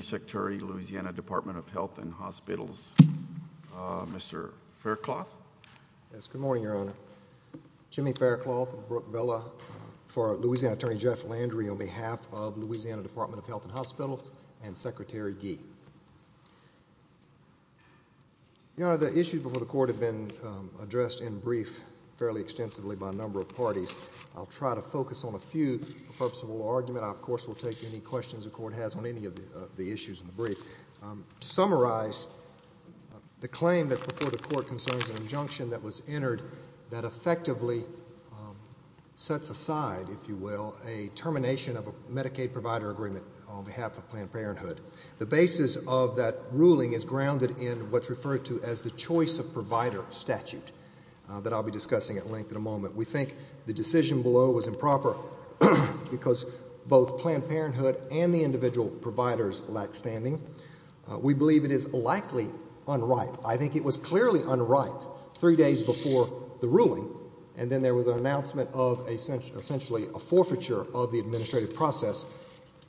Secretary, Louisiana Department of Health and Hospitals. The issues before the Court have been addressed in brief fairly extensively by a number of parties. I'll try to focus on a few for the purpose of a little argument. I, of course, will take any questions the Court has on any of the issues in the brief. To summarize, the claim that's before the Court concerns an injunction that was entered that effectively sets aside, if you will, a termination of a Medicaid provider agreement on behalf of Planned Parenthood. The basis of that ruling is grounded in what's referred to as the choice of provider statute that I'll be discussing at length in a moment. We think the decision below was improper because both Planned Parenthood and the individual providers lack standing. We believe it is likely unripe. I think it was clearly unripe three days before the ruling, and then there was an announcement of essentially a forfeiture of the administrative process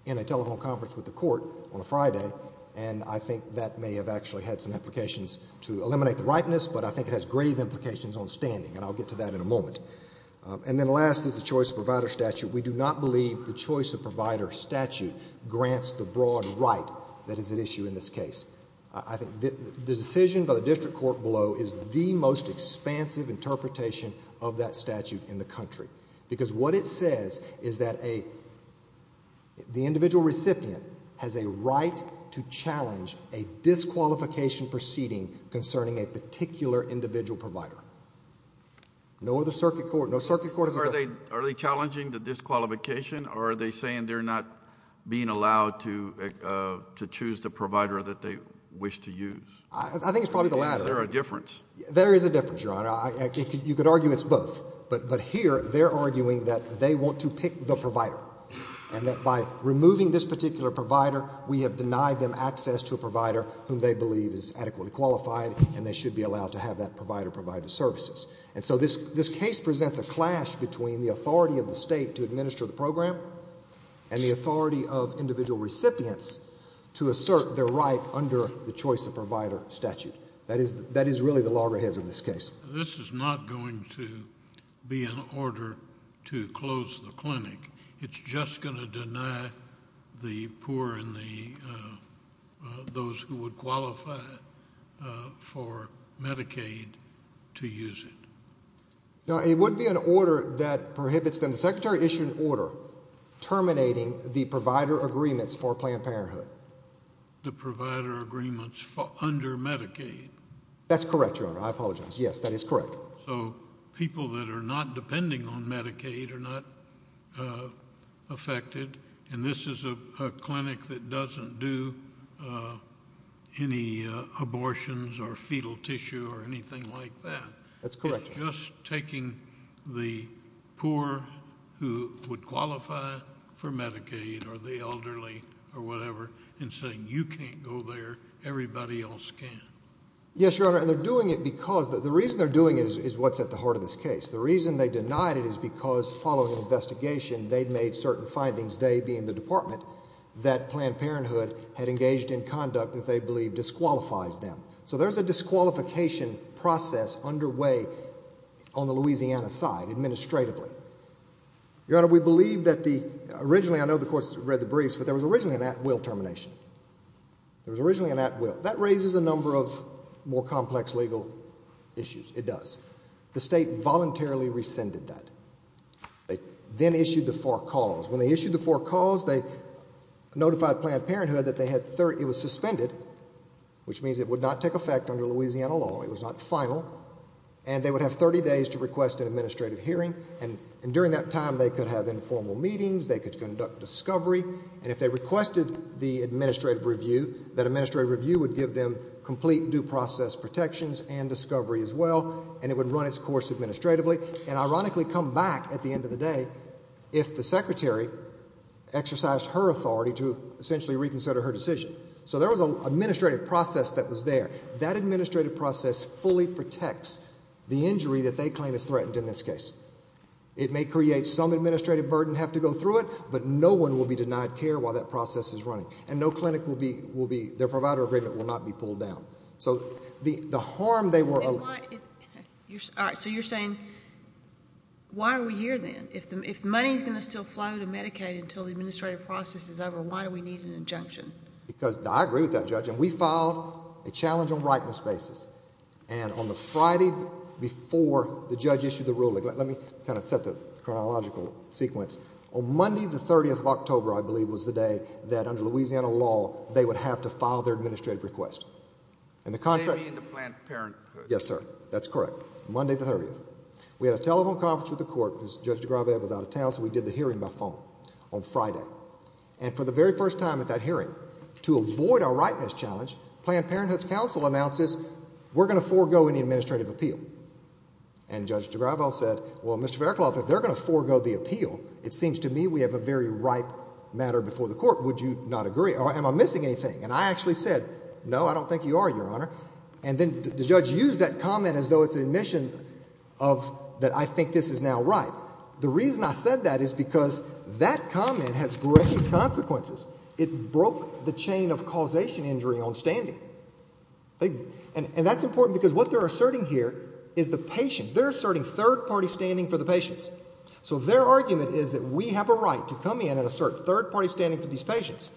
in a telephone conference with the Court on a Friday, and I think that may have actually had some implications to eliminate the ripeness, but I think it has grave implications on standing, and I'll get to that in a moment. And then last is the choice of provider statute. We do not believe the choice of provider statute grants the broad right that is at issue in this case. I think the decision by the District Court below is the most expansive interpretation of that statute in the country, because what it says is that the individual recipient has a right to challenge a disqualification proceeding concerning a particular individual provider. No other circuit court, no circuit court has ever— So are they challenging the disqualification, or are they saying they're not being allowed to choose the provider that they wish to use? I think it's probably the latter. Is there a difference? There is a difference, Your Honor. You could argue it's both, but here they're arguing that they want to pick the provider, and that by removing this particular provider, we have denied them access to a provider whom they believe is adequately qualified, and they should be allowed to have that provider provide the services. And so this case presents a clash between the authority of the state to administer the program and the authority of individual recipients to assert their right under the choice of provider statute. That is really the loggerheads of this case. This is not going to be an order to close the clinic. It's just going to deny the poor and those who would qualify for Medicaid to use it. Now, it wouldn't be an order that prohibits them—the Secretary issued an order terminating the provider agreements for Planned Parenthood. The provider agreements under Medicaid? That's correct, Your Honor. I apologize. Yes, that is correct. So people that are not depending on Medicaid are not affected, and this is a clinic that doesn't do any abortions or fetal tissue or anything like that. That's correct, Your Honor. It's just taking the poor who would qualify for Medicaid or the elderly or whatever and saying you can't go there, everybody else can. Yes, Your Honor. And they're doing it because—the reason they're doing it is what's at the heart of this case. The reason they denied it is because following an investigation, they'd made certain findings, they being the department, that Planned Parenthood had engaged in conduct that they believed disqualifies them. So there's a disqualification process underway on the Louisiana side, administratively. Your Honor, we believe that the—originally, I know the courts read the briefs, but there was originally an at-will termination. There was originally an at-will. That raises a number of more complex legal issues. It does. The state voluntarily rescinded that. They then issued the four calls. When they issued the four calls, they notified Planned Parenthood that it was suspended, which means it would not take effect under Louisiana law, it was not final, and they would have 30 days to request an administrative hearing, and during that time, they could have informal meetings, they could conduct discovery, and if they requested the administrative review, that administrative review would give them complete due process protections and discovery as well, and it would run its course administratively, and ironically come back at the end of the day if the secretary exercised her authority to essentially reconsider her decision. So there was an administrative process that was there. That administrative process fully protects the injury that they claim is threatened in this case. It may create some administrative burden, have to go through it, but no one will be... their provider agreement will not be pulled down. So the harm they were... And why... all right, so you're saying, why are we here then? If money's going to still flow to Medicaid until the administrative process is over, why do we need an injunction? Because I agree with that, Judge, and we filed a challenge on rightful spaces, and on the Friday before the judge issued the ruling, let me kind of set the chronological sequence. On Monday, the 30th of October, I believe, was the day that under Louisiana law, they would have to file their administrative request. And the contract... They mean the Planned Parenthood. Yes, sir. That's correct. Monday, the 30th. We had a telephone conference with the court, because Judge de Gravel was out of town, so we did the hearing by phone on Friday. And for the very first time at that hearing, to avoid our rightness challenge, Planned Parenthood's counsel announces, we're going to forego any administrative appeal. And Judge de Gravel said, well, Mr. Faircloth, if they're going to forego the appeal, it seems to me we have a very ripe matter before the court. Would you not agree? Or am I missing anything? And I actually said, no, I don't think you are, Your Honor. And then the judge used that comment as though it's an admission of that I think this is now ripe. The reason I said that is because that comment has great consequences. It broke the chain of causation injury on standing. And that's important, because what they're asserting here is the patients. They're asserting third-party standing for the patients. So their argument is that we have a right to come in and assert third-party standing for these patients.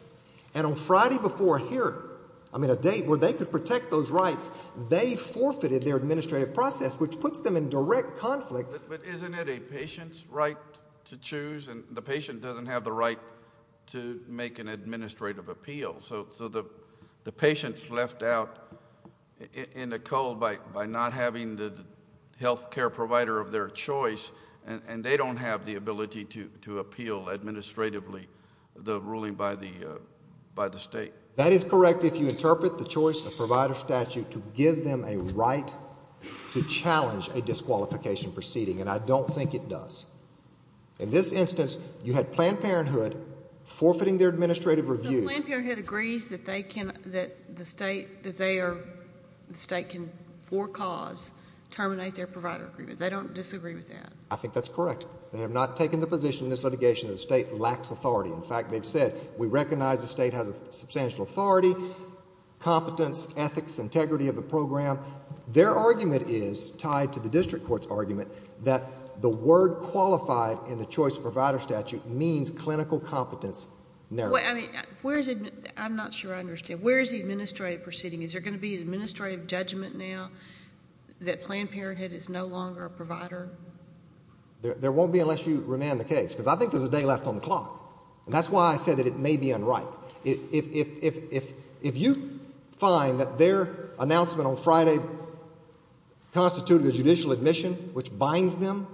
And on Friday before a hearing, I mean, a date where they could protect those rights, they forfeited their administrative process, which puts them in direct conflict. But isn't it a patient's right to choose, and the patient doesn't have the right to make an administrative appeal? So the patient's left out in the cold by not having the health care provider of their choice, and they don't have the ability to appeal administratively the ruling by the state. That is correct if you interpret the choice of provider statute to give them a right to challenge a disqualification proceeding, and I don't think it does. In this instance, you had Planned Parenthood forfeiting their administrative review. But Planned Parenthood agrees that they can, that the state, that they are, the state can for cause terminate their provider agreement. They don't disagree with that. I think that's correct. They have not taken the position in this litigation that the state lacks authority. In fact, they've said, we recognize the state has a substantial authority, competence, ethics, integrity of the program. Their argument is, tied to the district court's argument, that the word qualified in the choice of provider statute means clinical competence narrowed. Well, I mean, where's the, I'm not sure I understand, where's the administrative proceeding? Is there going to be an administrative judgment now that Planned Parenthood is no longer a provider? There, there won't be unless you remand the case, because I think there's a day left on the clock. And that's why I said that it may be unripe. If, if, if, if, if you find that their announcement on Friday constituted a judicial admission which binds them,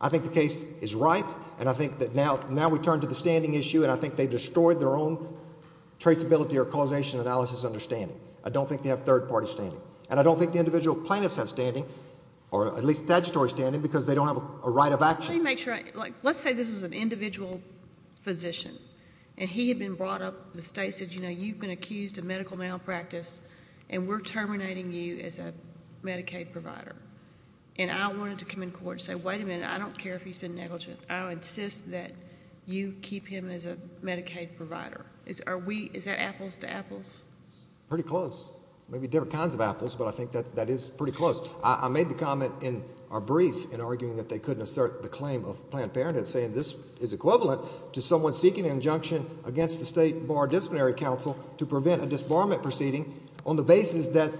I think the case is ripe, and I think that now, now we turn to the standing issue, and I think they've destroyed their own traceability or causation analysis understanding. I don't think they have third-party standing. And I don't think the individual plaintiffs have standing, or at least statutory standing, because they don't have a right of action. Let me make sure I, like, let's say this is an individual physician, and he had been brought up, the state said, you know, you've been accused of medical malpractice, and we're terminating you as a Medicaid provider. And I wanted to come in court and say, wait a minute, I don't care if he's been negligent. I'll insist that you keep him as a Medicaid provider. Is, are we, is that apples to apples? Pretty close. Maybe different kinds of apples, but I think that, that is pretty close. I, I made the comment in our brief in arguing that they couldn't assert the claim of Planned Parenthood, saying this is equivalent to someone seeking an injunction against the State Bar Disciplinary Council to prevent a disbarment proceeding on the basis that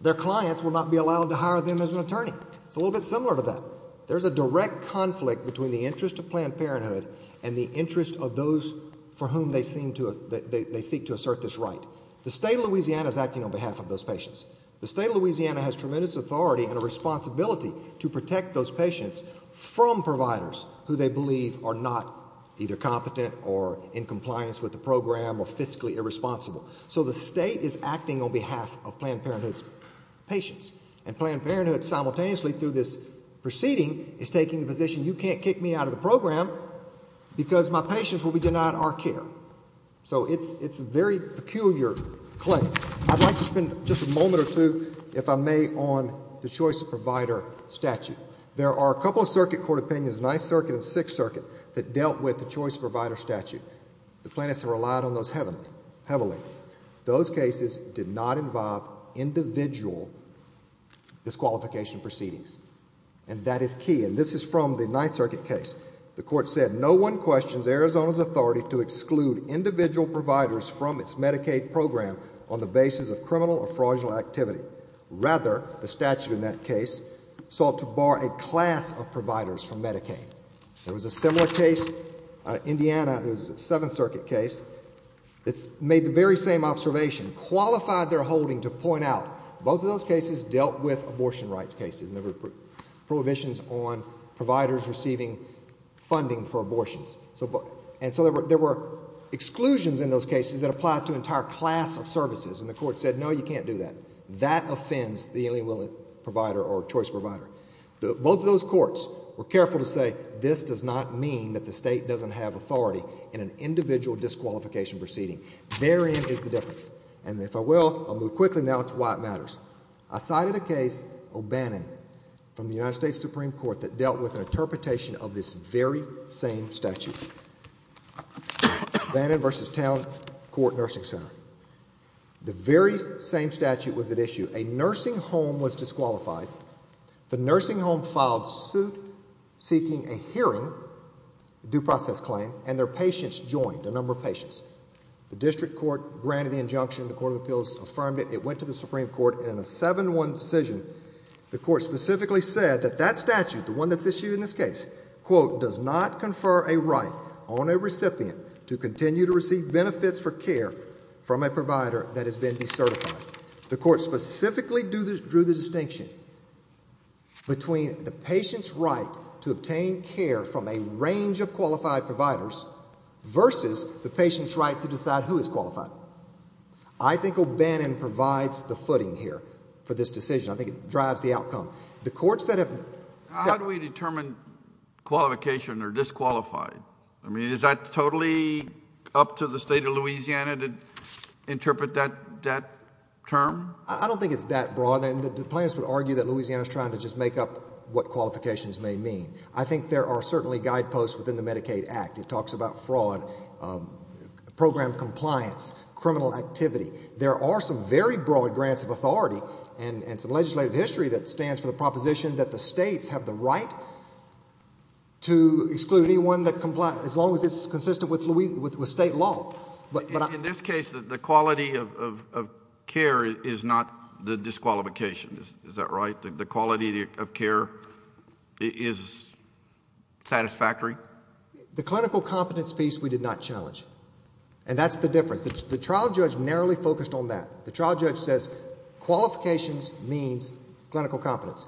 their clients will not be allowed to hire them as an attorney. It's a little bit similar to that. There's a direct conflict between the interest of Planned Parenthood and the interest of those for whom they seem to, they, they seek to assert this right. The state of Louisiana is acting on behalf of those patients. The state of Louisiana has tremendous authority and a responsibility to protect those patients from providers who they believe are not either competent or in compliance with the program or fiscally irresponsible. So the state is acting on behalf of Planned Parenthood's patients. And Planned Parenthood simultaneously through this proceeding is taking the position you can't kick me out of the program because my patients will be denied our care. So it's, it's a very peculiar claim. I'd like to spend just a moment or two, if I may, on the Choice of Provider statute. There are a couple of circuit court opinions, Ninth Circuit and Sixth Circuit, that dealt with the Choice of Provider statute. The plaintiffs have relied on those heavily, heavily. Those cases did not involve individual disqualification proceedings. And that is key. And this is from the Ninth Circuit case. The court said, no one questions Arizona's authority to exclude individual providers from its Medicaid program on the basis of criminal or fraudulent activity. Rather, the statute in that case sought to bar a class of providers from Medicaid. There was a similar case, Indiana, it was a Seventh Circuit case, that made the very same observation, qualified their holding to point out both of those cases dealt with abortion rights cases and there were prohibitions on providers receiving funding for abortions. And so there were, there were exclusions in those cases that applied to an entire class of services. And the court said, no, you can't do that. That offends the only willing provider or Choice of Provider. Both of those courts were careful to say, this does not mean that the state doesn't have authority in an individual disqualification proceeding. Therein is the difference. And if I will, I'll move quickly now to why it matters. I cited a case, O'Bannon, from the United States Supreme Court that dealt with an interpretation of this very same statute. O'Bannon v. Town Court Nursing Center. The very same statute was at issue. A nursing home was disqualified. The nursing home filed suit seeking a hearing, due process claim, and their patients joined, a number of patients. The district court granted the injunction, the Court of Appeals affirmed it, it went to the Supreme Court, and in a 7-1 decision, the court specifically said that that statute, the one that's issued in this case, quote, does not confer a right on a recipient to continue to receive benefits for care from a provider that has been decertified. The court specifically drew the distinction between the patient's right to obtain care from a range of qualified providers versus the patient's right to decide who is qualified. I think O'Bannon provides the footing here for this decision. I think it drives the outcome. The courts that have... How do we determine qualification or disqualified? I mean, is that totally up to the state of Louisiana to interpret that term? I don't think it's that broad. The plaintiffs would argue that Louisiana's trying to just make up what qualifications may mean. I think there are certainly guideposts within the Medicaid Act. It talks about fraud, program compliance, criminal activity. There are some very broad grants of authority and some legislative history that stands for the proposition that the states have the right to exclude anyone as long as it's consistent with state law. In this case, the quality of care is not the disqualification. Is that right? The quality of care is satisfactory? The clinical competence piece we did not challenge. That's the difference. The trial judge narrowly focused on that. The trial judge says qualifications means clinical competence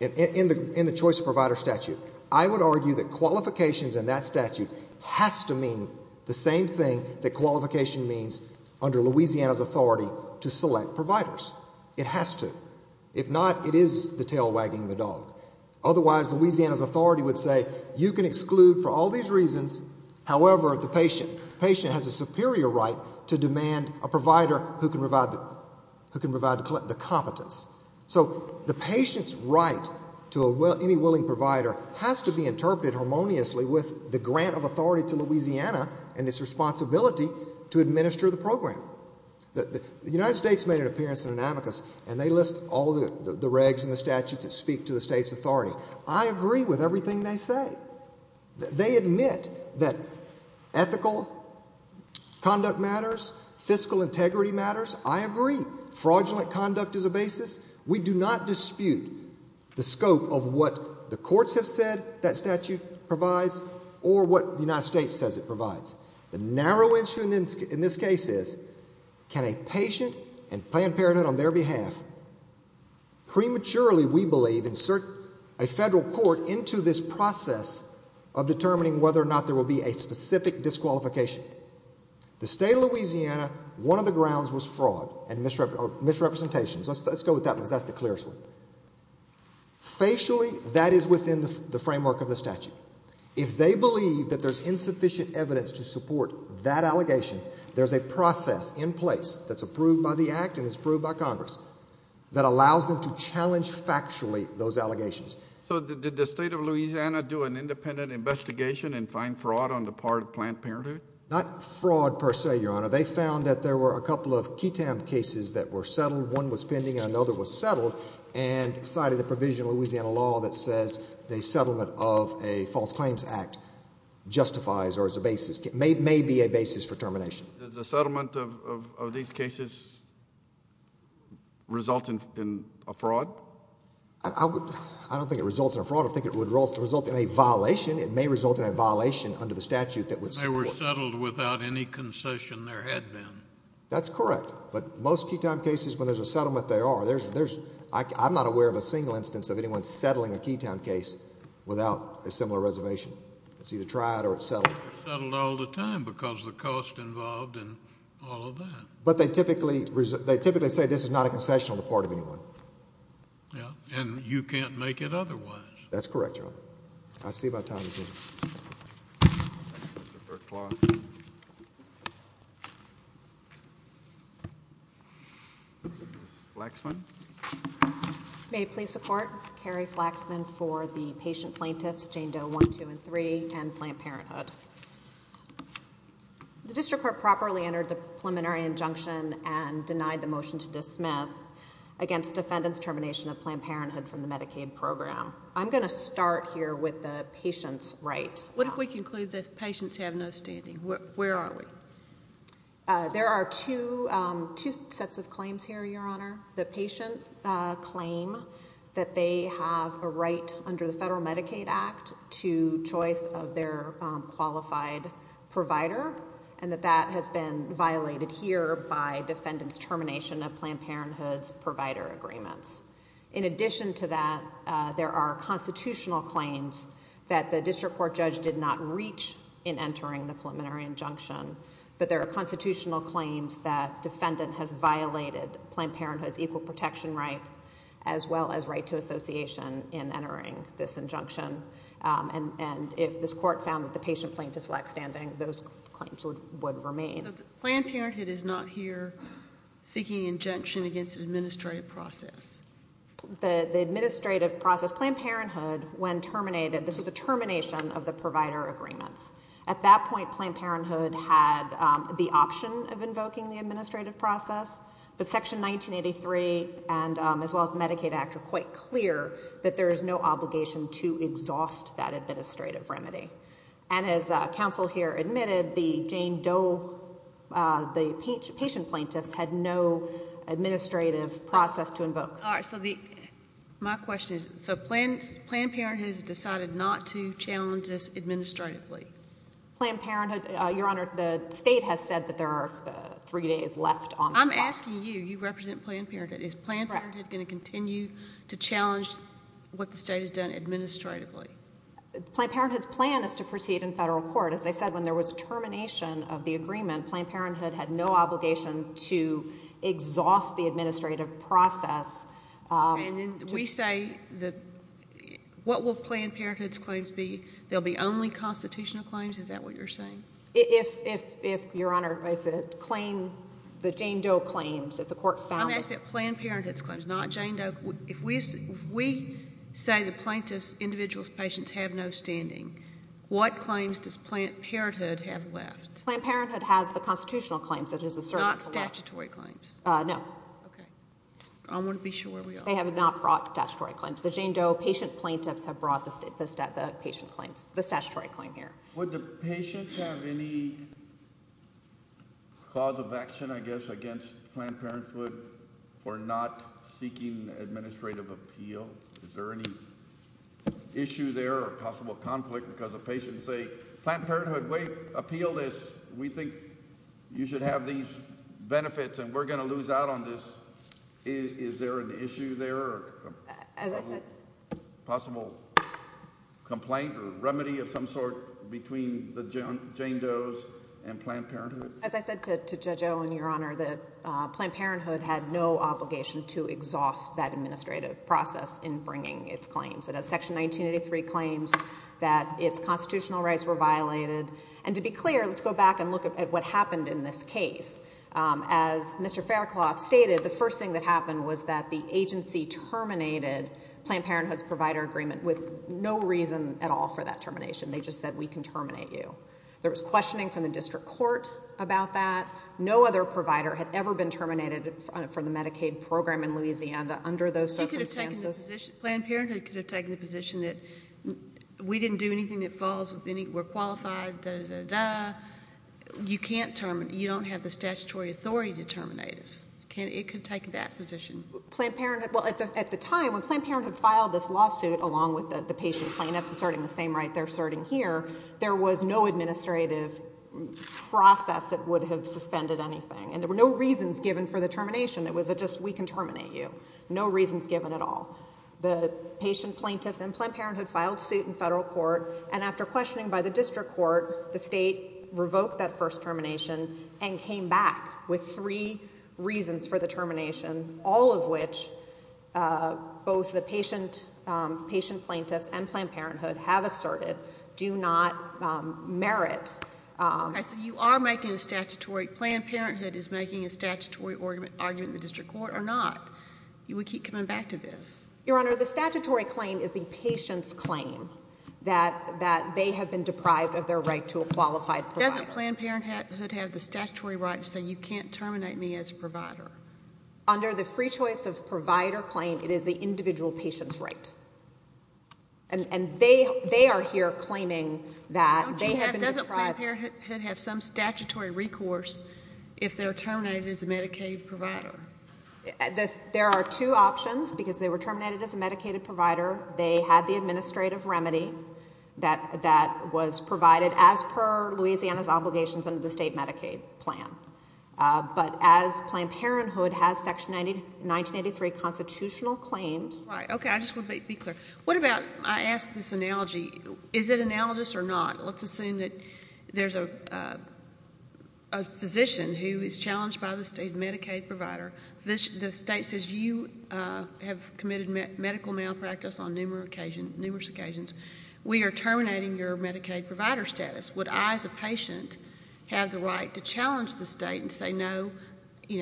in the choice provider statute. I would argue that qualifications in that statute has to mean the same thing that qualification means under Louisiana's authority to select providers. It has to. If not, it is the tail wagging the dog. Otherwise, Louisiana's authority would say you can exclude for all these reasons, however, the patient. The patient has a superior right to demand a provider who can provide the competence. So the patient's right to any willing provider has to be interpreted harmoniously with the grant of authority to Louisiana and its responsibility to administer the program. The United States made an appearance in an amicus and they list all the regs in the statute that speak to the state's authority. I agree with everything they say. They admit that ethical conduct matters, fiscal integrity matters. I agree. Fraudulent conduct is a basis. We do not dispute the scope of what the courts have said that statute provides or what the United States says it provides. The narrow answer in this case is can a patient and Planned Parenthood on their behalf prematurely, we believe, insert a federal court into this process of determining whether or not there will be a specific disqualification. The state of Louisiana, one of the grounds was fraud and misrepresentations. Let's go with that because that's the clearest one. Facially, that is within the framework of the statute. If they believe that there's insufficient evidence to support that allegation, there's a process in place that's approved by the Act and it's approved by Congress that allows them to challenge factually those allegations. So did the state of Louisiana do an independent investigation and find fraud on the part of Planned Parenthood? Not fraud per se, Your Honor. They found that there were a couple of KETAM cases that were settled. One was pending and another was settled and cited the provision of Louisiana law that says the settlement of a false claims act justifies or is a basis, may be a basis for termination. Does the settlement of these cases result in a fraud? I don't think it results in a fraud. I think it would result in a violation. It may result in a violation under the statute that would support... They were settled without any concession there had been. That's correct, but most KETAM cases, when there's a settlement, there are. I'm not aware of a single instance of anyone settling a KETAM case without a similar reservation. It's either tried or it's settled. It's settled all the time because of the cost involved and all of that. But they typically say this is not a concession on the part of anyone. Yeah, and you can't make it otherwise. That's correct, Your Honor. I'll see if I have time to see it. Mr. Burklaw. Ms. Flaxman. May it please support, Carrie Flaxman for the patient plaintiffs Jane Doe 1, 2, and 3 and Planned Parenthood. The district court properly entered the preliminary injunction and denied the motion to dismiss against defendant's termination of Planned Parenthood from the Medicaid program. I'm going to start here with the patient's right. What if we conclude that patients have no standing? Where are we? There are two sets of claims here, Your Honor. The patient claim that they have a right under the Federal Medicaid Act to choice of their qualified provider and that that has been violated here by defendant's termination of Planned Parenthood's provider agreements. In addition to that, there are constitutional claims that the district court judge did not reach in entering the preliminary injunction. But there are constitutional claims that defendant has violated Planned Parenthood's equal protection and if this court found that the patient plaintiff lacks standing, those claims would remain. Planned Parenthood is not here seeking injunction against an administrative process. The administrative process, Planned Parenthood, when terminated, this was a termination of the provider agreements. At that point, Planned Parenthood had the option of invoking the administrative process, but Section 1983 and as well as Medicaid Act are quite clear that there is no obligation to exhaust that administrative remedy. And as counsel here admitted, the Jane Doe, the patient plaintiffs had no administrative process to invoke. All right. So the, my question is, so Planned Parenthood has decided not to challenge this administratively? Planned Parenthood, Your Honor, the state has said that there are three days left on the clock. I'm asking you. You represent Planned Parenthood. Is Planned Parenthood going to continue to challenge what the state has done administratively? Planned Parenthood's plan is to proceed in federal court. As I said, when there was termination of the agreement, Planned Parenthood had no obligation to exhaust the administrative process. And then we say that, what will Planned Parenthood's claims be? They'll be only constitutional claims? Is that what you're saying? If, if, if, Your Honor, if the claim, the Jane Doe claims, if the court found that. I'm asking about Planned Parenthood's claims, not Jane Doe. If we, if we say the plaintiff's, individual's patients have no standing, what claims does Planned Parenthood have left? Planned Parenthood has the constitutional claims that is asserted. Not statutory claims? Uh, no. Okay. I want to be sure where we are. They have not brought statutory claims. The Jane Doe patient plaintiffs have brought the state, the, the patient claims, the statutory claim here. Would the patients have any cause of action, I guess, against Planned Parenthood for not seeking administrative appeal? Is there any issue there or possible conflict because the patients say, Planned Parenthood, we appeal this. We think you should have these benefits and we're going to lose out on this. Is there an issue there? As I said, possible complaint or remedy of some sort between the Jane Doe's and Planned Parenthood? As I said to Judge Owen, Your Honor, the Planned Parenthood had no obligation to exhaust that administrative process in bringing its claims. It has section 1983 claims that its constitutional rights were violated. And to be clear, let's go back and look at what happened in this case. As Mr. Faircloth stated, the first thing that happened was that the agency terminated Planned Parenthood's provider agreement with no reason at all for that termination. They just said, we can terminate you. There was questioning from the district court about that. No other provider had ever been terminated from the Medicaid program in Louisiana under those circumstances. You could have taken the position, Planned Parenthood could have taken the position that we didn't do anything that falls with any, we're qualified, dah, dah, dah, dah. You can't terminate. You don't have the statutory authority to terminate us. It could take that position. Planned Parenthood, well, at the time, when Planned Parenthood filed this lawsuit, along with the patient plaintiffs asserting the same right they're asserting here, there was no administrative process that would have suspended anything, and there were no reasons given for the termination. It was just, we can terminate you. No reasons given at all. The patient plaintiffs and Planned Parenthood filed suit in federal court, and after questioning by the district court, the state revoked that first termination and came back with three reasons for the termination, all of which both the patient plaintiffs and Planned Parenthood have asserted do not merit. Okay, so you are making a statutory, Planned Parenthood is making a statutory argument in the district court or not? You would keep coming back to this? Your Honor, the statutory claim is the patient's claim that they have been deprived of their right to a qualified provider. Doesn't Planned Parenthood have the statutory right to say you can't terminate me as a provider? Under the free choice of provider claim, it is the individual patient's right. And they are here claiming that they have been deprived. Doesn't Planned Parenthood have some statutory recourse if they're terminated as a Medicaid provider? There are two options because they were terminated as a Medicaid provider. They had the administrative remedy that was provided as per Louisiana's obligations under the state Medicaid plan. But as Planned Parenthood has Section 1983 constitutional claims Right. Okay, I just want to be clear. What about, I ask this analogy, is it analogous or not? Let's assume that there's a physician who is challenged by the state's Medicaid provider. The state says you have committed medical malpractice on numerous occasions. We are terminating your Medicaid provider status. Would I as a patient have the right to challenge the state and say no,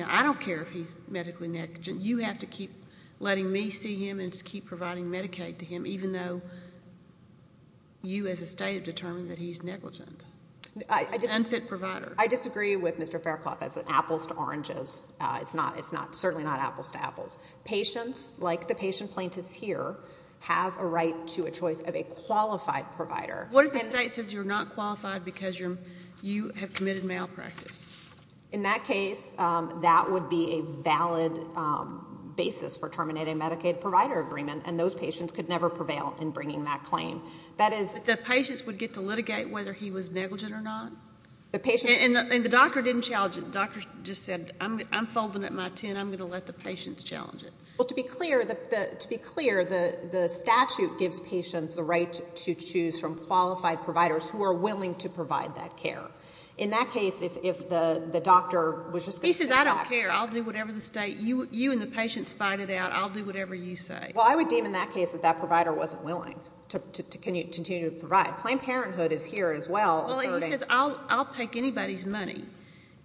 I don't care if he's medically negligent. You have to keep letting me see him and keep providing Medicaid to him even though you as a state have determined that he's negligent, an unfit provider. I disagree with Mr. Faircloth as apples to oranges. It's not, it's not, certainly not apples to apples. Patients like the patient plaintiffs here have a right to a choice of a qualified provider. What if the state says you're not qualified because you have committed malpractice? In that case, that would be a valid basis for terminating Medicaid provider agreement and those patients could never prevail in bringing that claim. The patients would get to litigate whether he was negligent or not? The patient. And the doctor didn't challenge it. The doctor just said, I'm folding up my ten, I'm going to let the patients challenge it. Well, to be clear, the statute gives patients the right to choose from qualified providers who are willing to provide that care. In that case, if the doctor was just going to say, I don't care, I'll do whatever the state, you and the patients fight it out, I'll do whatever you say. Well, I would deem in that case that that provider wasn't willing to continue to provide. Planned Parenthood is here as well. Well, he says, I'll, I'll take anybody's money,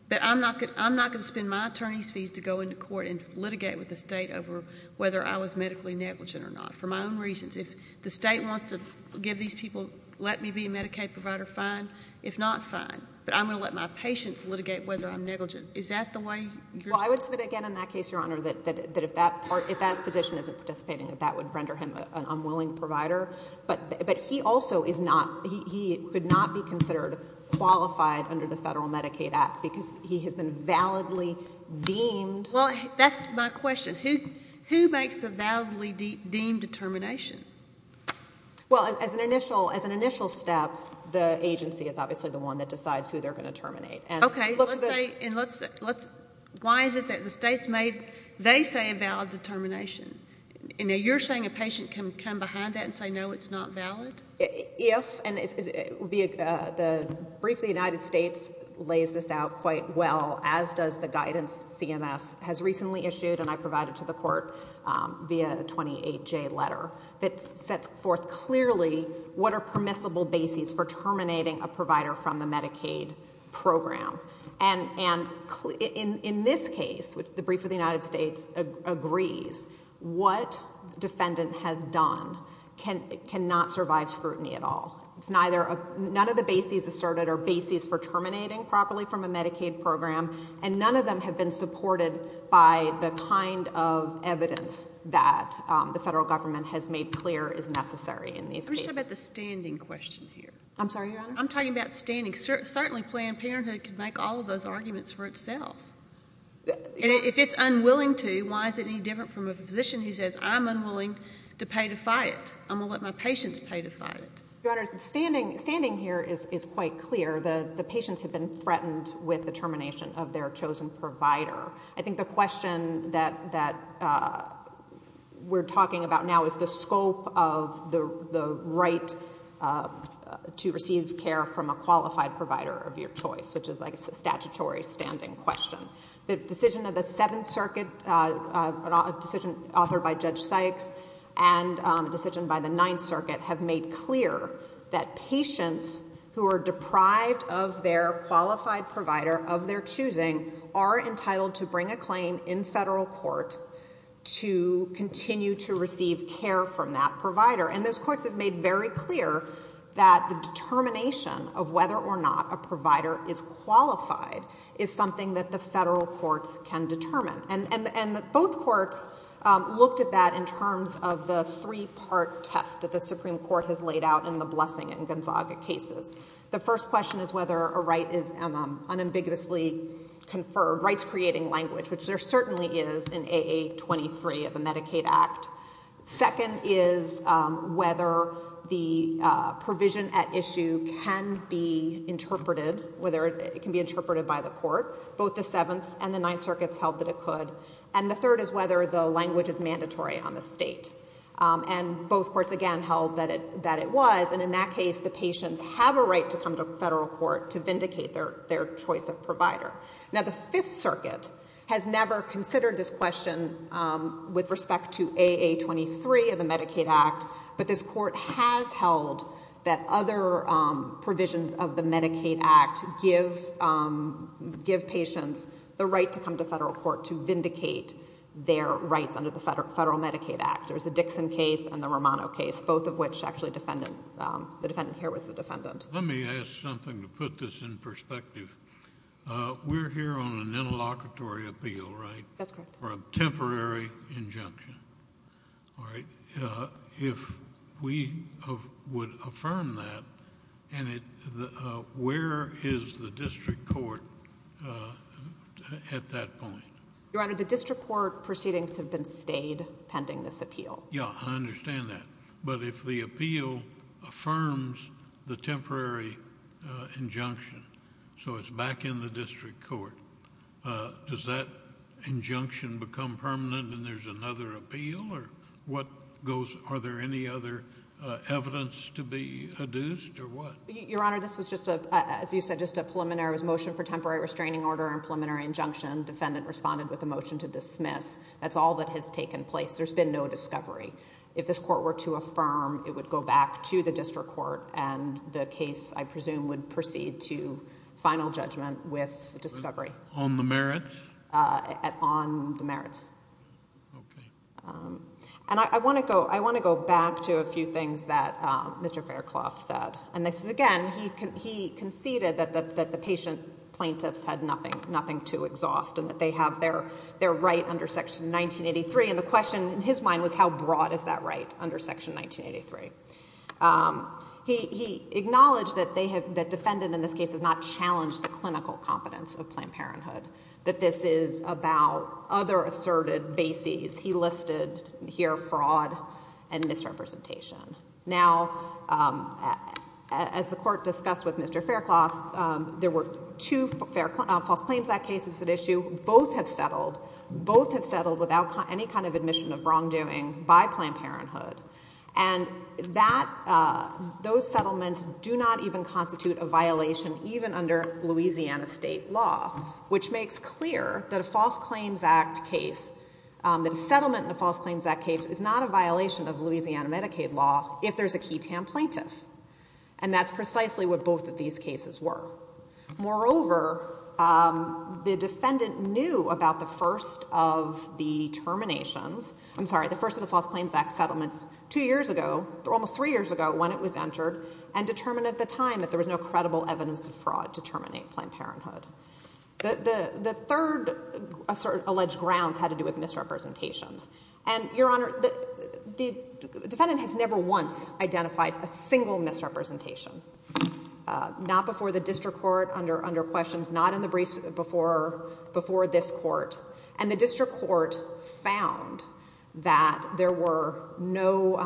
but I'm not going, I'm not going to spend my attorney's fees to go into court and litigate with the state over whether I was medically negligent or not. For my own reasons. If the state wants to give these people, let me be a Medicaid provider, fine. If not, fine. But I'm going to let my patients litigate whether I'm negligent. Is that the way? Well, I would submit again in that case, Your Honor, that if that part, if that physician isn't participating, that that would render him an unwilling provider, but, but he also is not, he could not be considered qualified under the Federal Medicaid Act because he has been validly deemed. Well, that's my question. Who, who makes the validly deemed determination? Well, as an initial, as an initial step, the agency is obviously the one that decides who they're going to terminate. Okay. And let's say, and let's, let's, why is it that the state's made, they say a valid determination and now you're saying a patient can come behind that and say, no, it's not valid? If, and the, the brief of the United States lays this out quite well, as does the guidance CMS has recently issued and I provided to the court via 28J letter that sets forth clearly what are permissible bases for terminating a provider from the Medicaid program. And, and in, in this case, which the brief of the United States agrees, what defendant has done can, cannot survive scrutiny at all. It's neither, none of the bases asserted are bases for terminating properly from a Medicaid program and none of them have been supported by the kind of evidence that the Federal Government has made clear is necessary in these cases. Let me talk about the standing question here. I'm sorry, Your Honor? I'm talking about standing, certainly Planned Parenthood can make all of those arguments for itself. And if it's unwilling to, why is it any different from a physician who says, I'm unwilling to pay to fight it. I'm going to let my patients pay to fight it. Your Honor, standing, standing here is, is quite clear. The, the patients have been threatened with the termination of their chosen provider. I think the question that, that we're talking about now is the scope of the, the right to receive care from a qualified provider of your choice, which is like a statutory standing question. The decision of the Seventh Circuit, a decision authored by Judge Sykes and a decision by the Ninth Circuit have made clear that patients who are deprived of their qualified provider of their choosing are entitled to bring a claim in federal court to continue to receive care from that provider. And those courts have made very clear that the determination of whether or not a provider is qualified is something that the federal courts can determine. And both courts looked at that in terms of the three-part test that the Supreme Court has laid out in the Blessing and Gonzaga cases. The first question is whether a right is unambiguously conferred, rights creating language, which there certainly is in AA23 of the Medicaid Act. Second is whether the provision at issue can be interpreted, whether it can be interpreted by the court. Both the Seventh and the Ninth Circuits held that it could. And the third is whether the language is mandatory on the state. And both courts again held that it, that it was. And in that case, the patients have a right to come to federal court to vindicate their choice of provider. Now, the Fifth Circuit has never considered this question with respect to AA23 of the Medicaid Act. But this court has held that other provisions of the Medicaid Act give patients the right to come to federal court to vindicate their rights under the Federal Medicaid Act. There's a Dixon case and the Romano case, both of which actually defendant, the defendant here was the defendant. Let me ask something to put this in perspective. We're here on an interlocutory appeal, right? That's correct. For a temporary injunction, all right? If we would affirm that, and it, where is the district court at that point? Your Honor, the district court proceedings have been stayed pending this appeal. Yeah, I understand that. But if the appeal affirms the temporary injunction, so it's back in the district court, does that injunction become permanent and there's another appeal or what goes, are there any other evidence to be adduced or what? Your Honor, this was just a, as you said, just a preliminary motion for temporary restraining order and preliminary injunction. Defendant responded with a motion to dismiss. That's all that has taken place. There's been no discovery. If this court were to affirm, it would go back to the district court and the case, I presume, would proceed to final judgment with discovery. On the merits? On the merits. Okay. And I want to go, I want to go back to a few things that Mr. Faircloth said. And this is, again, he conceded that the patient plaintiffs had nothing to exhaust and that they have their right under Section 1983. And the question in his mind was how broad is that right under Section 1983? He acknowledged that they have, that defendant in this case has not challenged the clinical competence of Planned Parenthood, that this is about other asserted bases. He listed here fraud and misrepresentation. Now, as the court discussed with Mr. Faircloth, there were two False Claims Act cases at issue. Both have settled. Both have settled without any kind of admission of wrongdoing by Planned Parenthood. And that, those settlements do not even constitute a violation even under Louisiana state law, which makes clear that a False Claims Act case, that a settlement in a False Claims Act case is not a violation of Louisiana Medicaid law if there's a key TAM plaintiff. And that's precisely what both of these cases were. Moreover, the defendant knew about the first of the terminations, I'm sorry, the first of the False Claims Act settlements two years ago, almost three years ago when it was entered, and determined at the time that there was no credible evidence of fraud to terminate Planned Parenthood. The third alleged grounds had to do with misrepresentations. And, Your Honor, the defendant has never once identified a single misrepresentation. Not before the district court, under questions, not in the briefs before this court. And the district court found that there were no,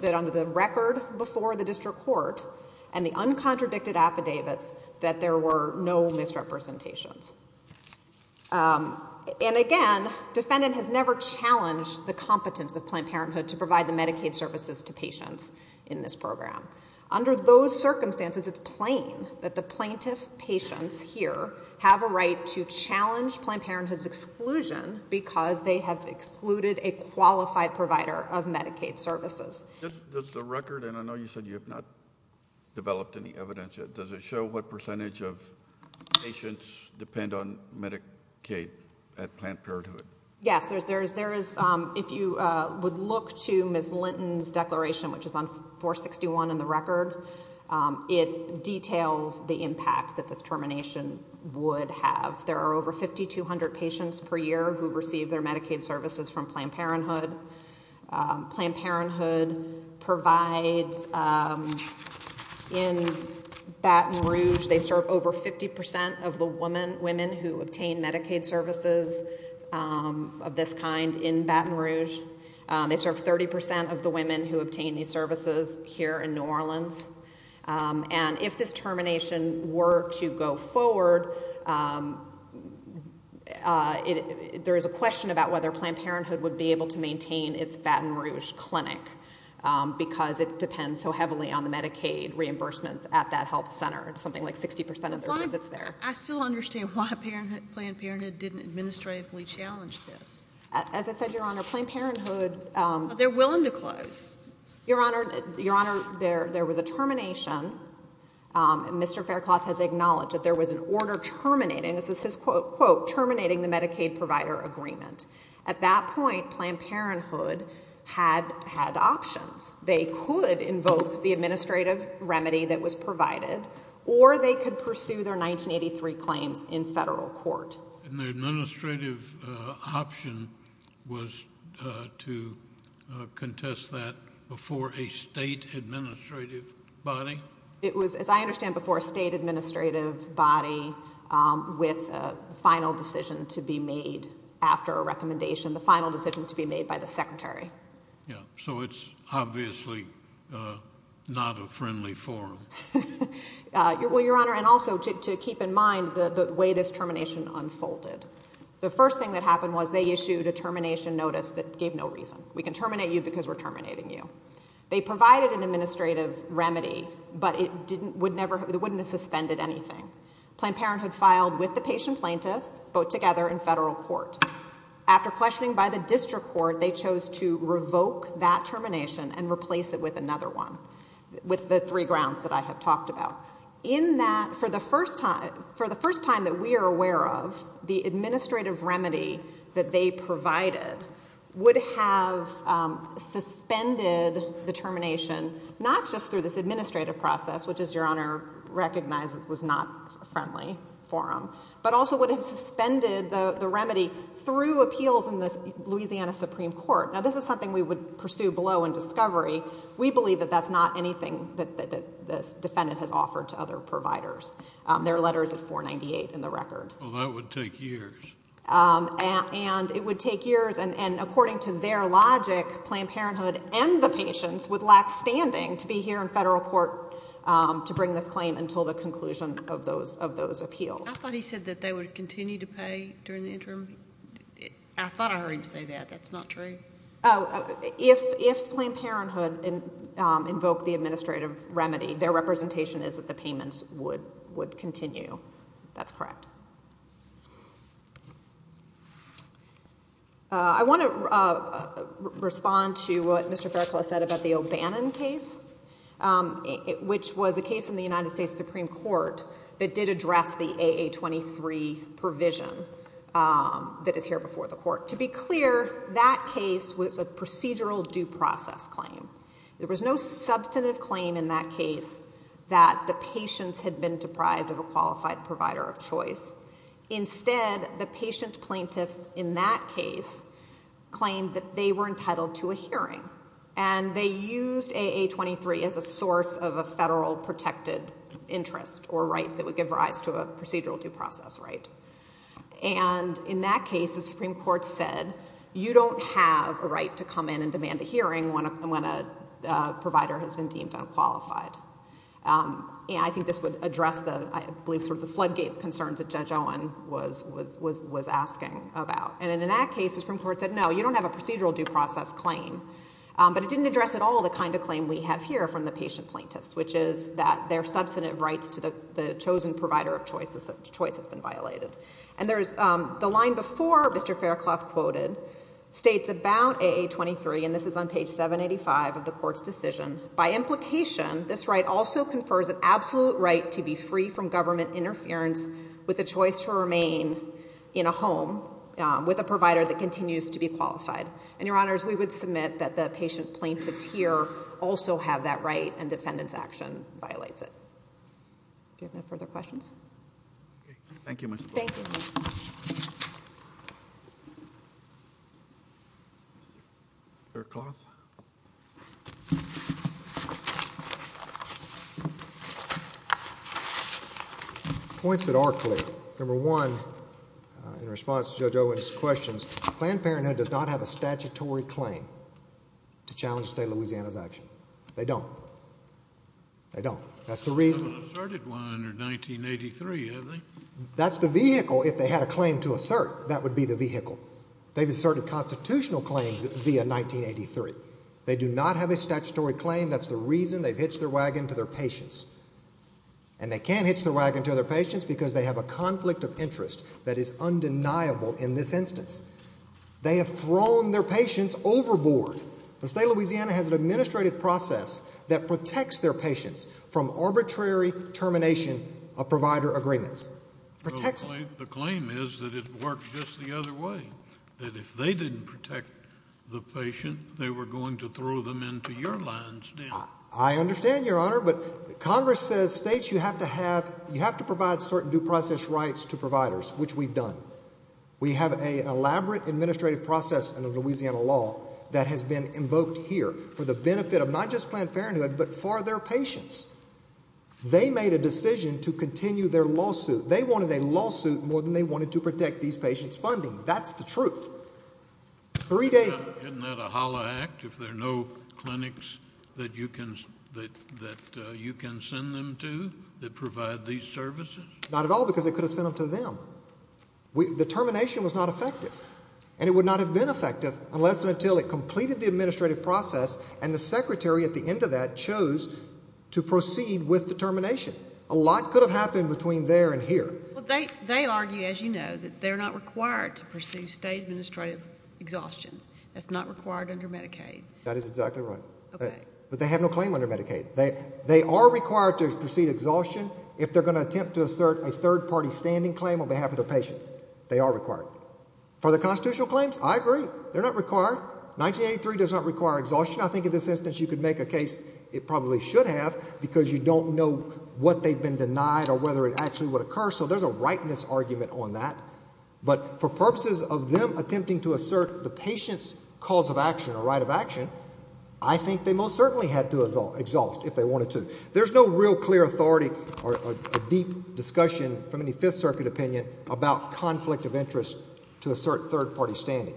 that under the record before the district court and the uncontradicted affidavits, that there were no misrepresentations. And again, defendant has never challenged the competence of Planned Parenthood to provide the Medicaid services to patients in this program. Under those circumstances, it's plain that the plaintiff patients here have a right to challenge Planned Parenthood's exclusion because they have excluded a qualified provider of Medicaid services. Does the record, and I know you said you have not developed any evidence yet, does it show what percentage of patients depend on Medicaid at Planned Parenthood? Yes, there is, if you would look to Ms. Linton's declaration, which is on 461 in the record, it details the impact that this termination would have. There are over 5,200 patients per year who receive their Medicaid services from Planned Parenthood. Planned Parenthood provides in Baton Rouge, they serve over 50% of the women who obtain Medicaid services of this kind in Baton Rouge. They serve 30% of the women who obtain these services here in New Orleans. And if this termination were to go forward, there is a question about whether Planned Parenthood would maintain its Baton Rouge clinic because it depends so heavily on the Medicaid reimbursements at that health center, it's something like 60% of their visits there. I still understand why Planned Parenthood didn't administratively challenge this. As I said, Your Honor, Planned Parenthood... They're willing to close. Your Honor, there was a termination, and Mr. Faircloth has acknowledged that there was an order terminating, this is his quote, terminating the Medicaid provider agreement. At that point, Planned Parenthood had options. They could invoke the administrative remedy that was provided, or they could pursue their 1983 claims in federal court. And the administrative option was to contest that before a state administrative body? It was, as I understand, before a state administrative body with a final decision to be made after a recommendation, the final decision to be made by the secretary. So it's obviously not a friendly forum. Well, Your Honor, and also to keep in mind the way this termination unfolded. The first thing that happened was they issued a termination notice that gave no reason. We can terminate you because we're terminating you. They provided an administrative remedy, but it wouldn't have suspended anything. Planned Parenthood filed with the patient plaintiffs, both together in federal court. After questioning by the district court, they chose to revoke that termination and replace it with another one, with the three grounds that I have talked about. In that, for the first time that we are aware of, the administrative remedy that they provided would have suspended the termination, not just through this administrative process, which as Your Honor recognizes was not a friendly forum, but also would have suspended the remedy through appeals in the Louisiana Supreme Court. Now, this is something we would pursue below in discovery. We believe that that's not anything that this defendant has offered to other providers. Their letter is at 498 in the record. Well, that would take years. And it would take years. And according to their logic, Planned Parenthood and the patients would lack standing to be here in federal court to bring this claim until the conclusion of those appeals. I thought he said that they would continue to pay during the interim. I thought I heard him say that. That's not true? If Planned Parenthood invoked the administrative remedy, their representation is that the payments would continue. That's correct. I want to respond to what Mr. Faircloth said about the O'Bannon case, which was a case in the United States Supreme Court that did address the AA23 provision that is here before the court. To be clear, that case was a procedural due process claim. There was no substantive claim in that case that the patients had been deprived of a qualified provider of choice. Instead, the patient plaintiffs in that case claimed that they were entitled to a hearing. And they used AA23 as a source of a federal protected interest or right that would give rise to a procedural due process right. And in that case, the Supreme Court said, you don't have a right to come in and demand a hearing when a provider has been deemed unqualified. I think this would address the floodgates concerns that Judge Owen was asking about. And in that case, the Supreme Court said, no, you don't have a procedural due process claim. But it didn't address at all the kind of claim we have here from the patient plaintiffs, which is that their substantive rights to the chosen provider of choice has been violated. And the line before Mr. Faircloth quoted states about AA23, and this is on page 785 of the By implication, this right also confers an absolute right to be free from government interference with the choice to remain in a home with a provider that continues to be qualified. And, Your Honors, we would submit that the patient plaintiffs here also have that right and defendant's action violates it. Do you have no further questions? Thank you, Mr. Blank. Thank you. Mr. Faircloth. Points that are clear, number one, in response to Judge Owen's questions, Planned Parenthood does not have a statutory claim to challenge the state of Louisiana's action. They don't. They don't. That's the reason. They haven't asserted one under 1983, have they? That's the vehicle. If they had a claim to assert, that would be the vehicle. They've asserted constitutional claims via 1983. They do not have a statutory claim. That's the reason they've hitched their wagon to their patients. And they can't hitch their wagon to their patients because they have a conflict of interest that is undeniable in this instance. They have thrown their patients overboard. The state of Louisiana has an administrative process that protects their patients from arbitrary termination of provider agreements. Protects them. The claim is that it worked just the other way, that if they didn't protect the patient, they were going to throw them into your lines now. I understand, Your Honor, but Congress says states, you have to have, you have to provide certain due process rights to providers, which we've done. We have an elaborate administrative process under Louisiana law that has been invoked here for the benefit of not just Planned Parenthood, but for their patients. They made a decision to continue their lawsuit. They wanted a lawsuit more than they wanted to protect these patients' funding. That's the truth. Three days... Isn't that a holla act, if there are no clinics that you can send them to that provide these services? Not at all, because they could have sent them to them. The termination was not effective. And it would not have been effective unless and until it completed the administrative process and the secretary at the end of that chose to proceed with the termination. A lot could have happened between there and here. They argue, as you know, that they're not required to proceed state administrative exhaustion. That's not required under Medicaid. That is exactly right. Okay. But they have no claim under Medicaid. They are required to proceed exhaustion if they're going to attempt to assert a third party standing claim on behalf of their patients. They are required. For the constitutional claims, I agree. They're not required. 1983 does not require exhaustion. I think in this instance you could make a case it probably should have because you don't know what they've been denied or whether it actually would occur. So there's a rightness argument on that. But for purposes of them attempting to assert the patient's cause of action or right of action, I think they most certainly had to exhaust if they wanted to. There's no real clear authority or deep discussion from any Fifth Circuit opinion about conflict of interest to assert third party standing.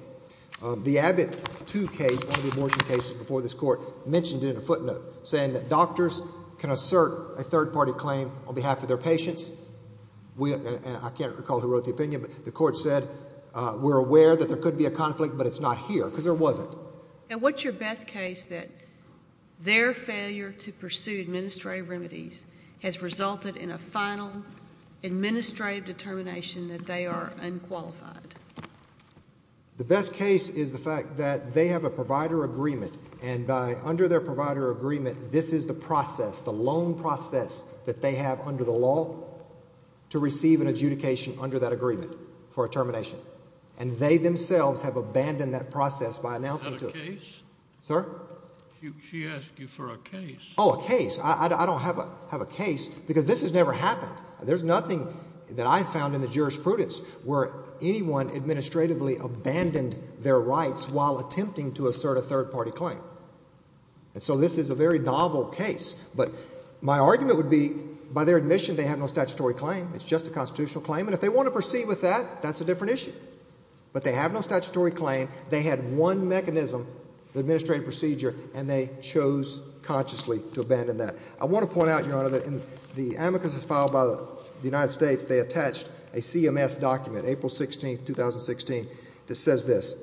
The Abbott 2 case, one of the abortion cases before this court, mentioned it in a footnote saying that doctors can assert a third party claim on behalf of their patients. I can't recall who wrote the opinion, but the court said we're aware that there could be a conflict, but it's not here because there wasn't. And what's your best case that their failure to pursue administrative remedies has resulted in a final administrative determination that they are unqualified? The best case is the fact that they have a provider agreement. And under their provider agreement, this is the process, the loan process that they have under the law to receive an adjudication under that agreement for a termination. And they themselves have abandoned that process by announcing to it. Have a case? Sir? She asked you for a case. Oh, a case. I don't have a case because this has never happened. There's nothing that I found in the jurisprudence where anyone administratively abandoned their rights while attempting to assert a third party claim. And so this is a very novel case, but my argument would be by their admission, they have no statutory claim. It's just a constitutional claim. And if they want to proceed with that, that's a different issue. But they have no statutory claim. They had one mechanism, the administrative procedure, and they chose consciously to abandon that. I want to point out, Your Honor, that in the amicus filed by the United States, they attached a CMS document, April 16, 2016, that says this,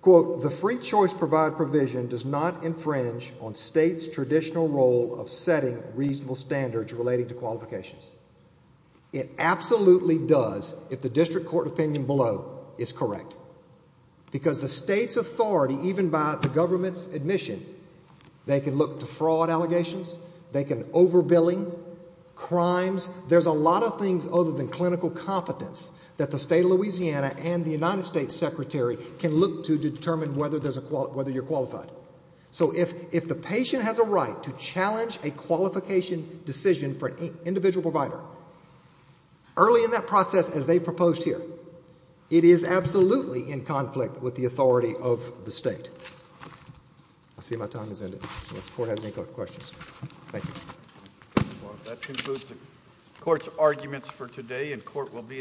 quote, the free choice provide provision does not infringe on state's traditional role of setting reasonable standards relating to qualifications. It absolutely does if the district court opinion below is correct. Because the state's authority, even by the government's admission, they can look to fraud allegations, they can over billing, crimes. There's a lot of things other than clinical competence that the state of Louisiana and the United States Secretary can look to determine whether you're qualified. So if the patient has a right to challenge a qualification decision for an individual provider, early in that process, as they proposed here, it is absolutely in conflict with the authority of the state. I see my time has ended, unless the court has any questions. Thank you. That concludes the court's arguments for today, and court will be